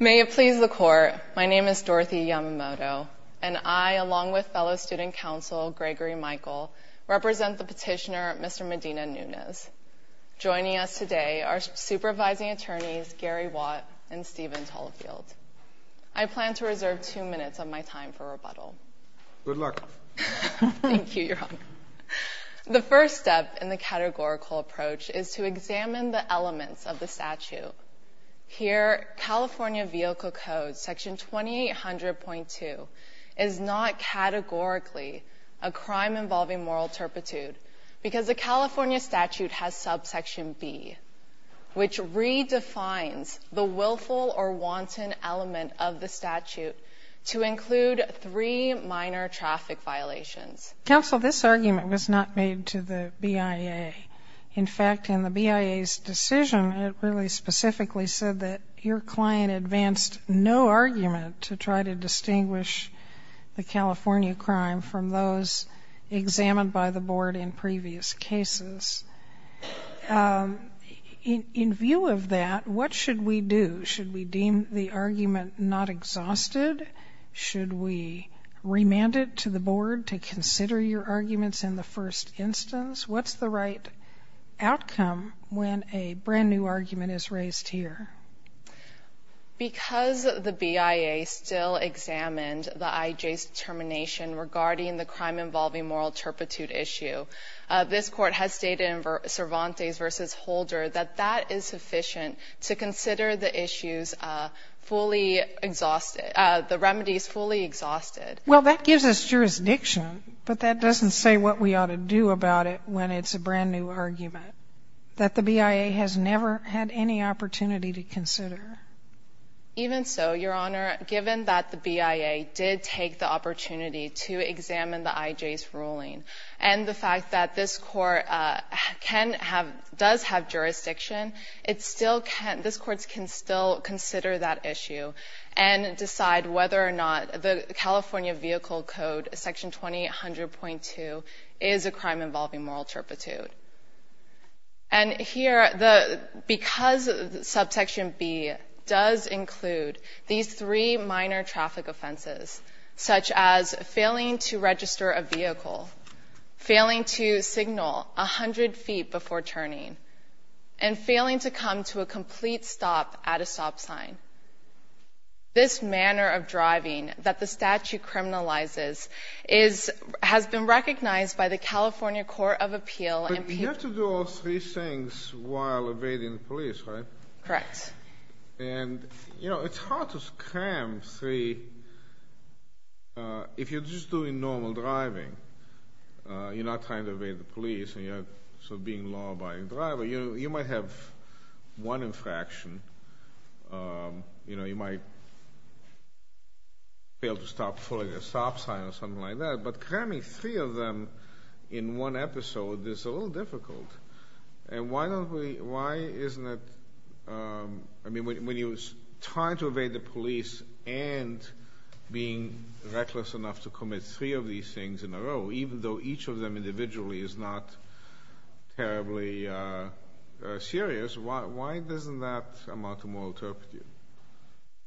May it please the Court, my name is Dorothy Yamamoto, and I, along with fellow student counsel Gregory Michael, represent the petitioner Mr. Medina-Nunez. Joining us today are supervising attorneys Gary Watt and Stephen Tullefield. I plan to reserve two minutes of my time for rebuttal. Good luck. Thank you, Your Honor. The first step in the categorical approach is to California Vehicle Code, Section 2800.2, is not categorically a crime involving moral turpitude because the California statute has subsection B, which redefines the willful or wanton element of the statute to include three minor traffic violations. Counsel, this argument was not made to the BIA. In fact, in the BIA's decision, it really specifically said that your client advanced no argument to try to distinguish the California crime from those examined by the Board in previous cases. In view of that, what should we do? Should we deem the argument not exhausted? Should we remand it to the Board to consider your arguments in the first instance? What's the right outcome when a brand-new argument is raised here? Because the BIA still examined the IJ's determination regarding the crime involving moral turpitude issue, this Court has stated in Cervantes v. Holder that that is sufficient to consider the issues fully exhausted, the remedies fully exhausted. Well, that gives us jurisdiction, but that doesn't say what we ought to do about it when it's a brand-new argument that the BIA has never had any opportunity to consider. Even so, Your Honor, given that the BIA did take the opportunity to examine the IJ's ruling and the fact that this Court can have — does have jurisdiction, it still can — this Court can still consider that issue and decide whether or not the California Vehicle Code, Section 2800.2, is a crime involving moral turpitude. And here, because Subsection B does include these three minor traffic offenses, such as failing to register a vehicle, failing to signal 100 feet before turning, and failing to come to a complete stop at a stop sign, this manner of driving that the statute criminalizes is — has been recognized by the California Court of Appeal and — But you have to do all three things while evading the police, right? Correct. And, you know, it's hard to cram three — if you're just doing normal driving, you're not trying to evade the police, and you're being a law-abiding driver, you might have one infraction. You know, you might fail to stop before a stop sign or something like that. But cramming three of them in one episode is a little difficult. And why don't we — why isn't it — I mean, when you're trying to evade the police and being reckless enough to commit three of these things in a row, even though each of them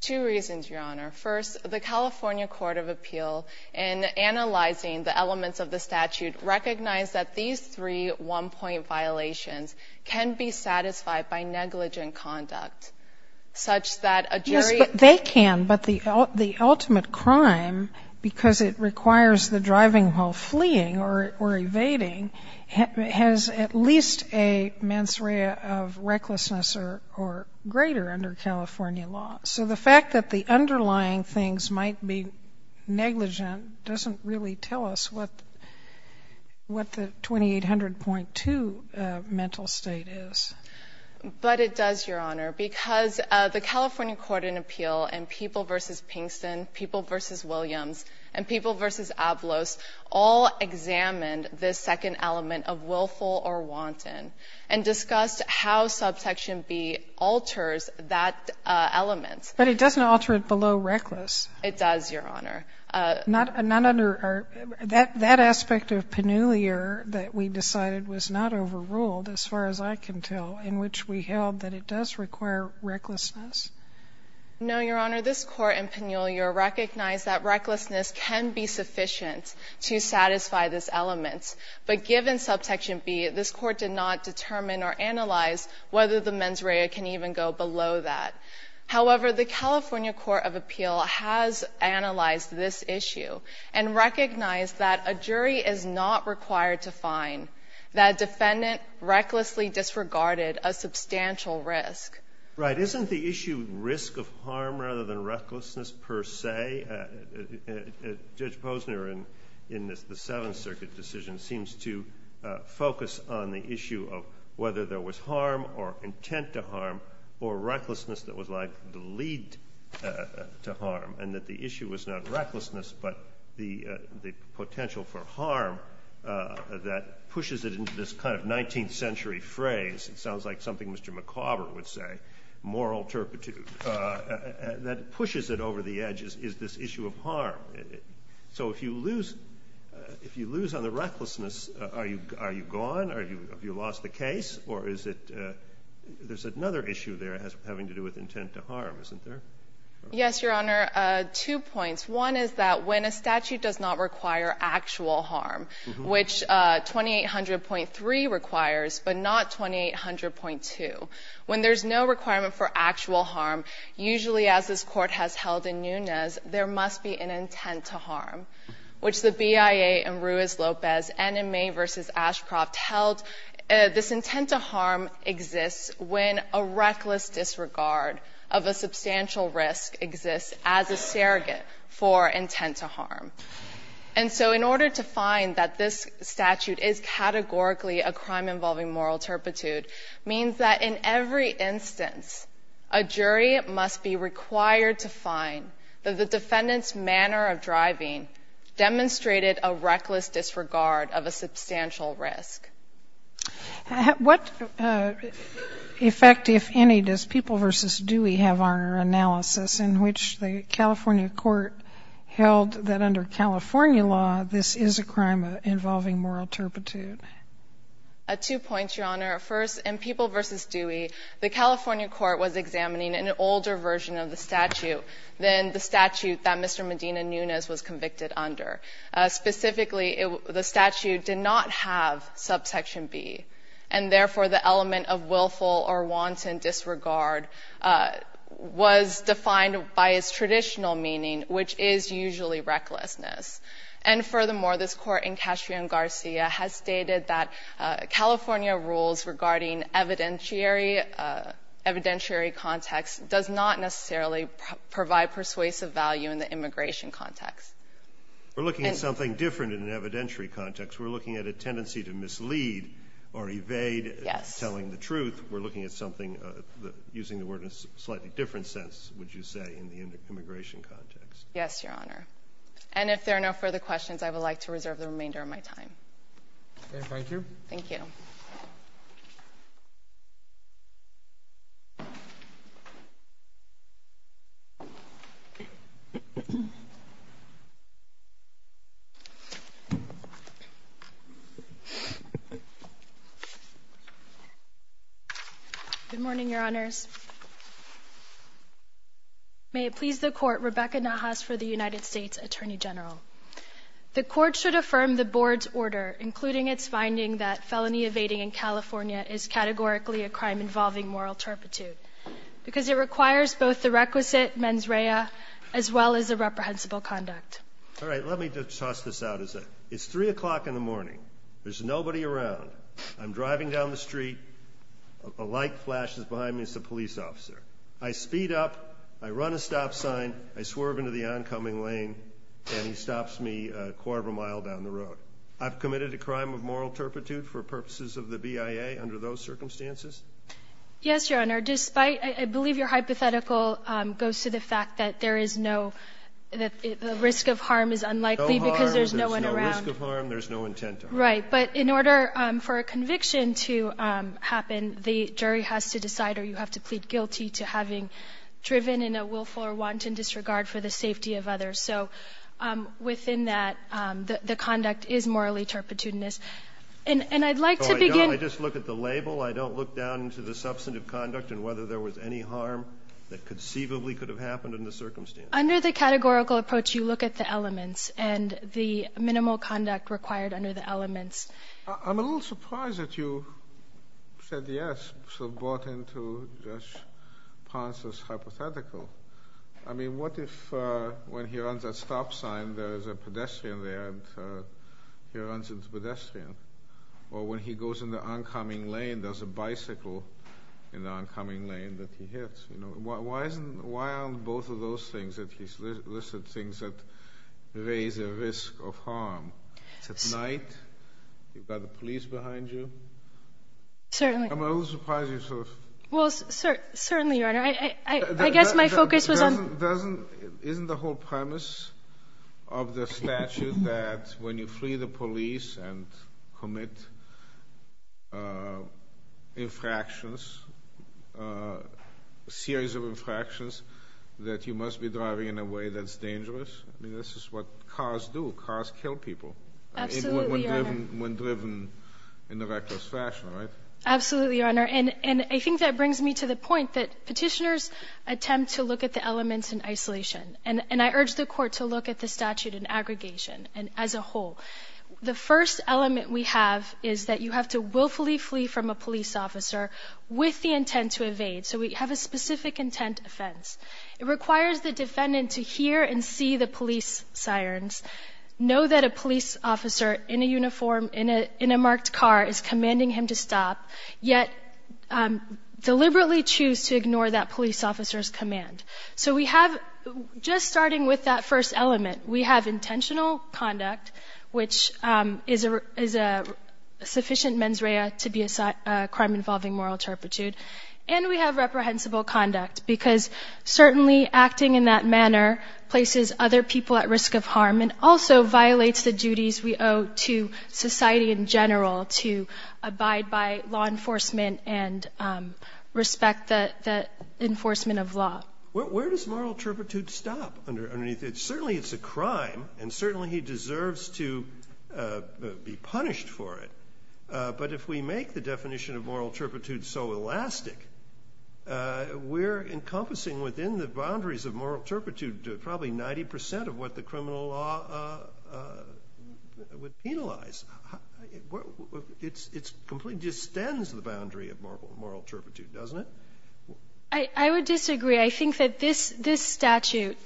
Two reasons, Your Honor. First, the California Court of Appeal, in analyzing the elements of the statute, recognized that these three one-point violations can be satisfied by negligent conduct, such that a jury — Yes, but they can. But the ultimate crime, because it requires the driving while fleeing or evading, has at least a mens rea of recklessness or greater under California law. So the fact that the underlying things might be negligent doesn't really tell us what the 2800.2 mental state is. But it does, Your Honor, because the California Court of Appeal and People v. Pinkston, People v. Williams, and People v. Avlos all examined this second element of willful or wanton and discussed how subsection B alters that element. But it doesn't alter it below reckless. It does, Your Honor. Not under — that aspect of Pennulier that we decided was not overruled, as far as I can tell, in which we held that it does require recklessness? No, Your Honor. This Court in Pennulier recognized that recklessness can be sufficient to satisfy this element. But given subsection B, this Court did not determine or analyze whether the mens rea can even go below that. However, the California Court of Appeal has analyzed this issue and recognized that a jury is not required to find that a defendant recklessly disregarded a substantial risk. Right. But isn't the issue risk of harm rather than recklessness per se? Judge Posner, in the Seventh Circuit decision, seems to focus on the issue of whether there was harm or intent to harm or recklessness that was likely to lead to harm, and that the issue was not recklessness but the potential for harm that pushes it into this kind of 19th century phrase. It sounds like something Mr. McAuburn would say, moral turpitude, that pushes it over the edge is this issue of harm. So if you lose on the recklessness, are you gone? Have you lost the case? Or is it there's another issue there having to do with intent to harm, isn't there? Yes, Your Honor. Two points. One is that when a statute does not require actual harm, which 2800.3 requires, but not 2800.2, when there's no requirement for actual harm, usually as this Court has held in Nunez, there must be an intent to harm, which the BIA in Ruiz-Lopez and in May v. Ashcroft held this intent to harm exists when a reckless disregard of a substantial risk exists as a surrogate for intent to harm. And so in order to find that this statute is categorically a crime involving moral turpitude means that in every instance a jury must be required to find that the defendant's manner of driving demonstrated a reckless disregard of a substantial risk. What effect, if any, does People v. Dewey have on our analysis in which the California Court held that under California law this is a crime involving moral turpitude? Two points, Your Honor. First, in People v. Dewey, the California Court was examining an older version of the statute than the statute that Mr. Medina Nunez was convicted under. Specifically, the statute did not have subsection B, and therefore the element of willful or wanton disregard was defined by its traditional meaning, which is usually recklessness. And furthermore, this Court in Cascio and Garcia has stated that California rules regarding evidentiary context does not necessarily provide persuasive value in the immigration context. We're looking at something different in an evidentiary context. We're looking at a tendency to mislead or evade telling the truth. Yes. We're looking at something, using the word in a slightly different sense, would you say, in the immigration context? Yes, Your Honor. And if there are no further questions, I would like to reserve the remainder of my time. Okay. Thank you. Thank you. Good morning, Your Honors. May it please the Court, Rebecca Nahas for the United States Attorney General. The Court should affirm the Board's order, including its finding that felony evading in California is categorically a crime involving moral turpitude, because it requires both the requisite mens rea as well as irreprehensible conduct. All right. Let me just toss this out. It's 3 o'clock in the morning. There's nobody around. I'm driving down the street. A light flashes behind me. It's a police officer. I speed up. I run a stop sign. I swerve into the oncoming lane, and he stops me a quarter of a mile down the road. I've committed a crime of moral turpitude for purposes of the BIA under those circumstances? Yes, Your Honor. Despite – I believe your hypothetical goes to the fact that there is no – that the risk of harm is unlikely because there's no one around. No harm. There's no risk of harm. There's no intent of harm. Right. But in order for a conviction to happen, the jury has to decide or you have to plead guilty to having driven in a willful or wanton disregard for the safety of others. So within that, the conduct is morally turpitudinous. And I'd like to begin – No, I don't. I just look at the label. I don't look down into the substantive conduct and whether there was any harm that conceivably could have happened under the circumstances. Under the categorical approach, you look at the elements and the minimal conduct required under the elements. I'm a little surprised that you said yes. So brought in to just Ponce's hypothetical. I mean, what if when he runs at stop sign, there is a pedestrian there and he runs into a pedestrian? Or when he goes in the oncoming lane, there's a bicycle in the oncoming lane that he hits. Why aren't both of those things at least listed things that raise a risk of harm? It's at night. You've got the police behind you. Certainly. I'm a little surprised you sort of – Well, certainly, Your Honor. I guess my focus was on – Doesn't – isn't the whole premise of the statute that when you flee the police and commit infractions, a series of infractions, that you must be driving in a way that's dangerous? I mean, this is what cars do. Cars kill people. Absolutely, Your Honor. When driven in a reckless fashion, right? Absolutely, Your Honor. And I think that brings me to the point that petitioners attempt to look at the elements in isolation. And I urge the court to look at the statute in aggregation and as a whole. The first element we have is that you have to willfully flee from a police officer with the intent to evade. So we have a specific intent offense. It requires the defendant to hear and see the police sirens, know that a police officer in a uniform, in a marked car, is commanding him to stop, yet deliberately choose to ignore that police officer's command. So we have – just starting with that first element, we have intentional conduct, which is a sufficient mens rea to be a crime involving moral turpitude, and we have reprehensible conduct. Because certainly acting in that manner places other people at risk of harm and also violates the duties we owe to society in general to abide by law enforcement and respect the enforcement of law. Where does moral turpitude stop underneath it? Certainly it's a crime, and certainly he deserves to be punished for it. But if we make the definition of moral turpitude so elastic, we're encompassing within the boundaries of moral turpitude probably 90 percent of what the criminal law would penalize. It completely distends the boundary of moral turpitude, doesn't it? I would disagree. I think that this statute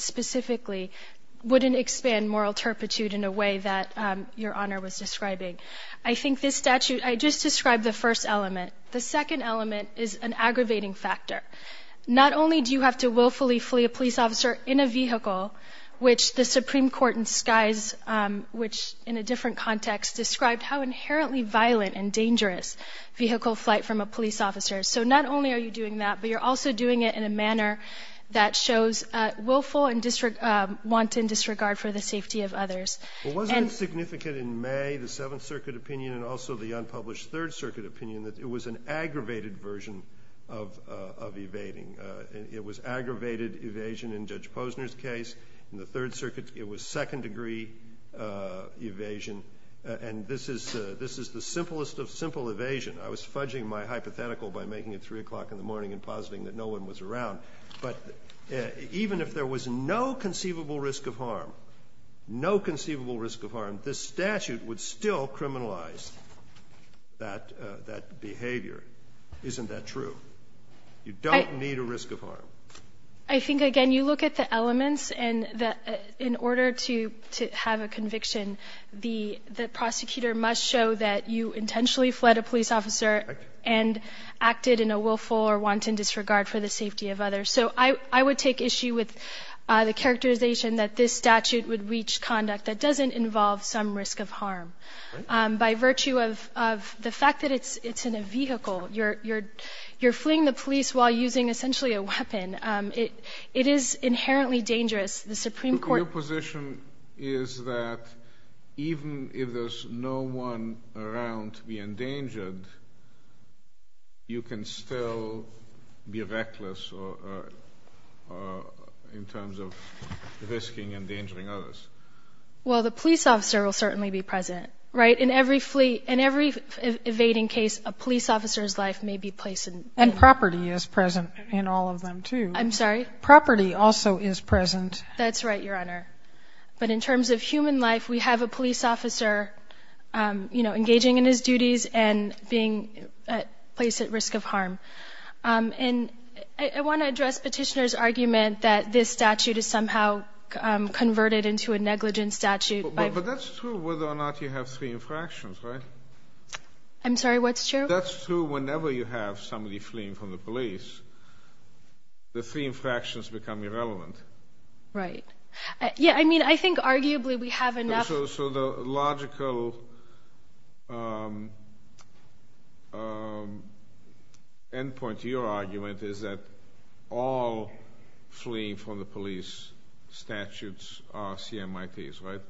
specifically wouldn't expand moral turpitude in a way that Your Honor was describing. I think this statute – I just described the first element. The second element is an aggravating factor. Not only do you have to willfully flee a police officer in a vehicle, which the Supreme Court in Skies – which, in a different context, described how inherently violent and dangerous vehicle flight from a police officer. So not only are you doing that, but you're also doing it in a manner that shows willful and wanton disregard for the safety of others. Well, wasn't it significant in May, the Seventh Circuit opinion, and also the unpublished Third Circuit opinion, that it was an aggravated version of evading? It was aggravated evasion in Judge Posner's case. In the Third Circuit, it was second-degree evasion. And this is the simplest of simple evasion. I was fudging my hypothetical by making it 3 o'clock in the morning and positing that no one was around. But even if there was no conceivable risk of harm, no conceivable risk of harm, this statute would still criminalize that behavior. Isn't that true? You don't need a risk of harm. I think, again, you look at the elements, and in order to have a conviction, the prosecutor must show that you intentionally fled a police officer and acted in a willful or wanton disregard for the safety of others. So I would take issue with the characterization that this statute would reach conduct that doesn't involve some risk of harm. By virtue of the fact that it's in a vehicle, you're fleeing the police while using essentially a weapon. It is inherently dangerous. The Supreme Court — Your position is that even if there's no one around to be endangered, you can still be reckless in terms of risking endangering others. Well, the police officer will certainly be present, right? In every evading case, a police officer's life may be placed in — And property is present in all of them, too. I'm sorry? Property also is present. That's right, Your Honor. But in terms of human life, we have a police officer, you know, engaging in his duties and being placed at risk of harm. And I want to address Petitioner's argument that this statute is somehow converted into a negligent statute by — But that's true whether or not you have three infractions, right? I'm sorry, what's true? That's true whenever you have somebody fleeing from the police. The three infractions become irrelevant. Right. Yeah, I mean, I think arguably we have enough — Endpoint to your argument is that all fleeing from the police statutes are CMITs, right?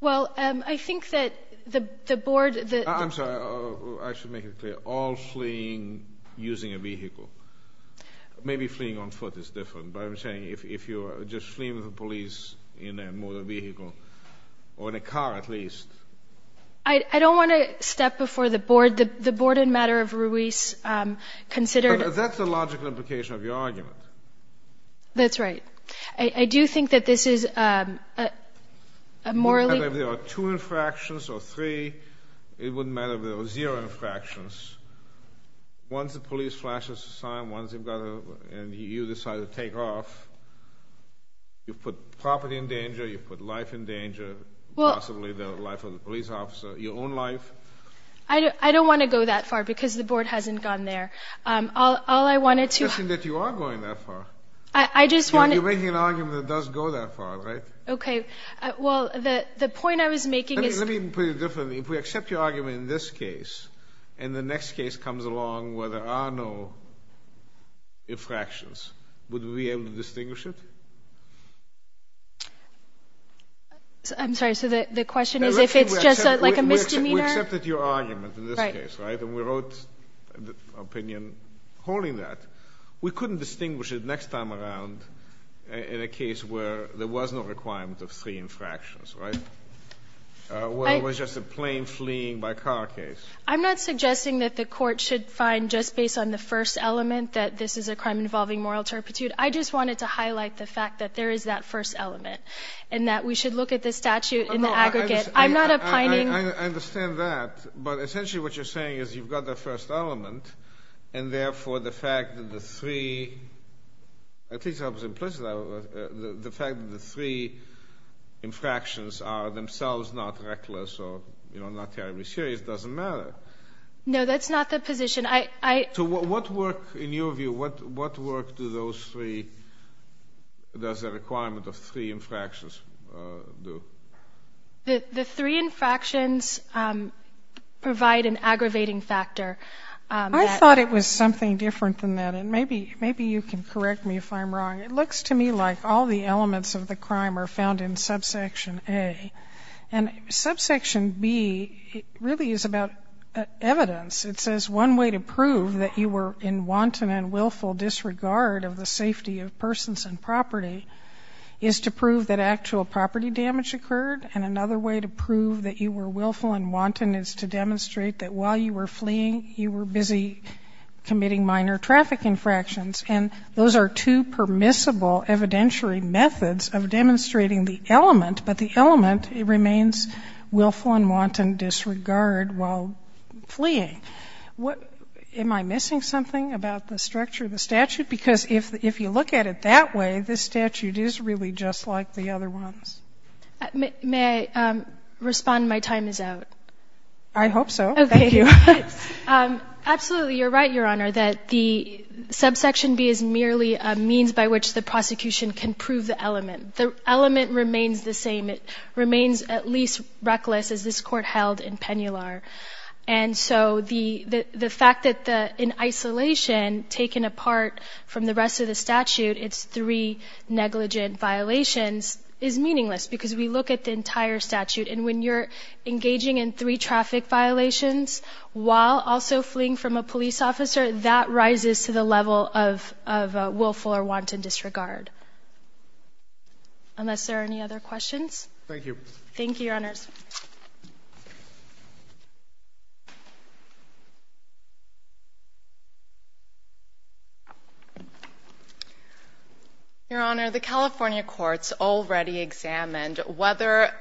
Well, I think that the board — I'm sorry, I should make it clear. All fleeing using a vehicle. Maybe fleeing on foot is different, but I'm saying if you're just fleeing from police in a motor vehicle, or in a car at least — I don't want to step before the board. The board in matter of Ruiz considered — But that's the logical implication of your argument. That's right. I do think that this is a morally — If there are two infractions or three, it wouldn't matter if there were zero infractions. Once the police flashes a sign, once they've got a — and you decide to take off, you put property in danger, you put life in danger, possibly the life of the police officer, your own life. I don't want to go that far because the board hasn't gone there. All I wanted to — It's interesting that you are going that far. I just wanted — You're making an argument that does go that far, right? Okay. Well, the point I was making is — Let me put it differently. If we accept your argument in this case and the next case comes along where there are no infractions, would we be able to distinguish it? I'm sorry. So the question is if it's just like a misdemeanor? We accepted your argument in this case, right? Right. And we wrote an opinion holding that. We couldn't distinguish it next time around in a case where there was no requirement of three infractions, right? Well, it was just a plane-fleeing-by-car case. I'm not suggesting that the Court should find just based on the first element that this is a crime involving moral turpitude. I just wanted to highlight the fact that there is that first element and that we should look at the statute in the aggregate. I'm not opining — I understand that. But essentially what you're saying is you've got the first element and therefore the fact that the three — at least I was implicit about it — the fact that the three infractions are themselves not reckless or not terribly serious doesn't matter. No, that's not the position. So what work, in your view, what work do those three — does the requirement of three infractions do? The three infractions provide an aggravating factor. I thought it was something different than that. And maybe you can correct me if I'm wrong. It looks to me like all the elements of the crime are found in subsection A. And subsection B really is about evidence. It says one way to prove that you were in wanton and willful disregard of the safety of persons and property is to prove that actual property damage occurred. And another way to prove that you were willful and wanton is to demonstrate that while you were fleeing, you were busy committing minor traffic infractions. But the element remains willful and wanton disregard while fleeing. Am I missing something about the structure of the statute? Because if you look at it that way, this statute is really just like the other ones. May I respond? My time is out. I hope so. Thank you. Absolutely, you're right, Your Honor, The element remains the same. It remains at least reckless as this Court held in Pennular. And so the fact that in isolation, taken apart from the rest of the statute, it's three negligent violations is meaningless because we look at the entire statute. And when you're engaging in three traffic violations while also fleeing from a police officer, that rises to the level of willful or wanton disregard. Unless there are any other questions? Thank you. Thank you, Your Honors. Your Honor, the California courts already examined whether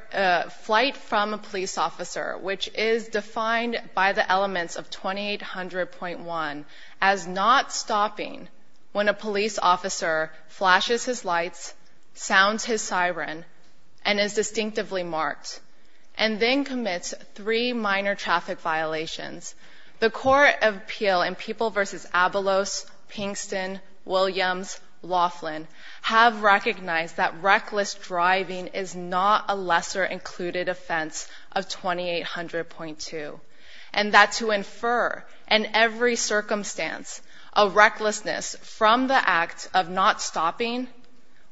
flight from a police officer, which is defined by the elements of 2800.1, as not stopping when a police officer flashes his lights, sounds his siren, and is distinctively marked, and then commits three minor traffic violations. The Court of Appeal in People v. Abelos, Pinkston, Williams, Laughlin have recognized that reckless driving is not a lesser included offense of 2800.2 and that to infer in every circumstance a recklessness from the act of not stopping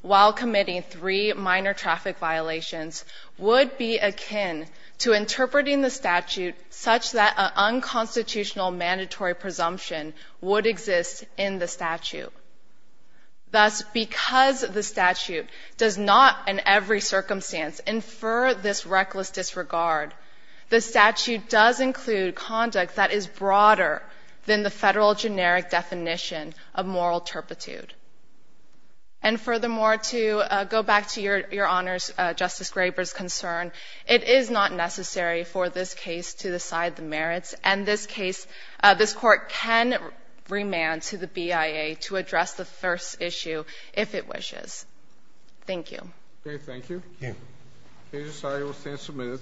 while committing three minor traffic violations would be akin to interpreting the statute such that an unconstitutional mandatory presumption would exist in the statute. Thus, because the statute does not in every circumstance infer this reckless disregard, the statute does include conduct that is broader than the federal generic definition of moral turpitude. And furthermore, to go back to Your Honors, Justice Graber's concern, it is not necessary for this case to decide the merits, and this court can remand to the BIA to address the first issue if it wishes. Thank you. Okay, thank you. Thank you. The case is signed and will stand submitted.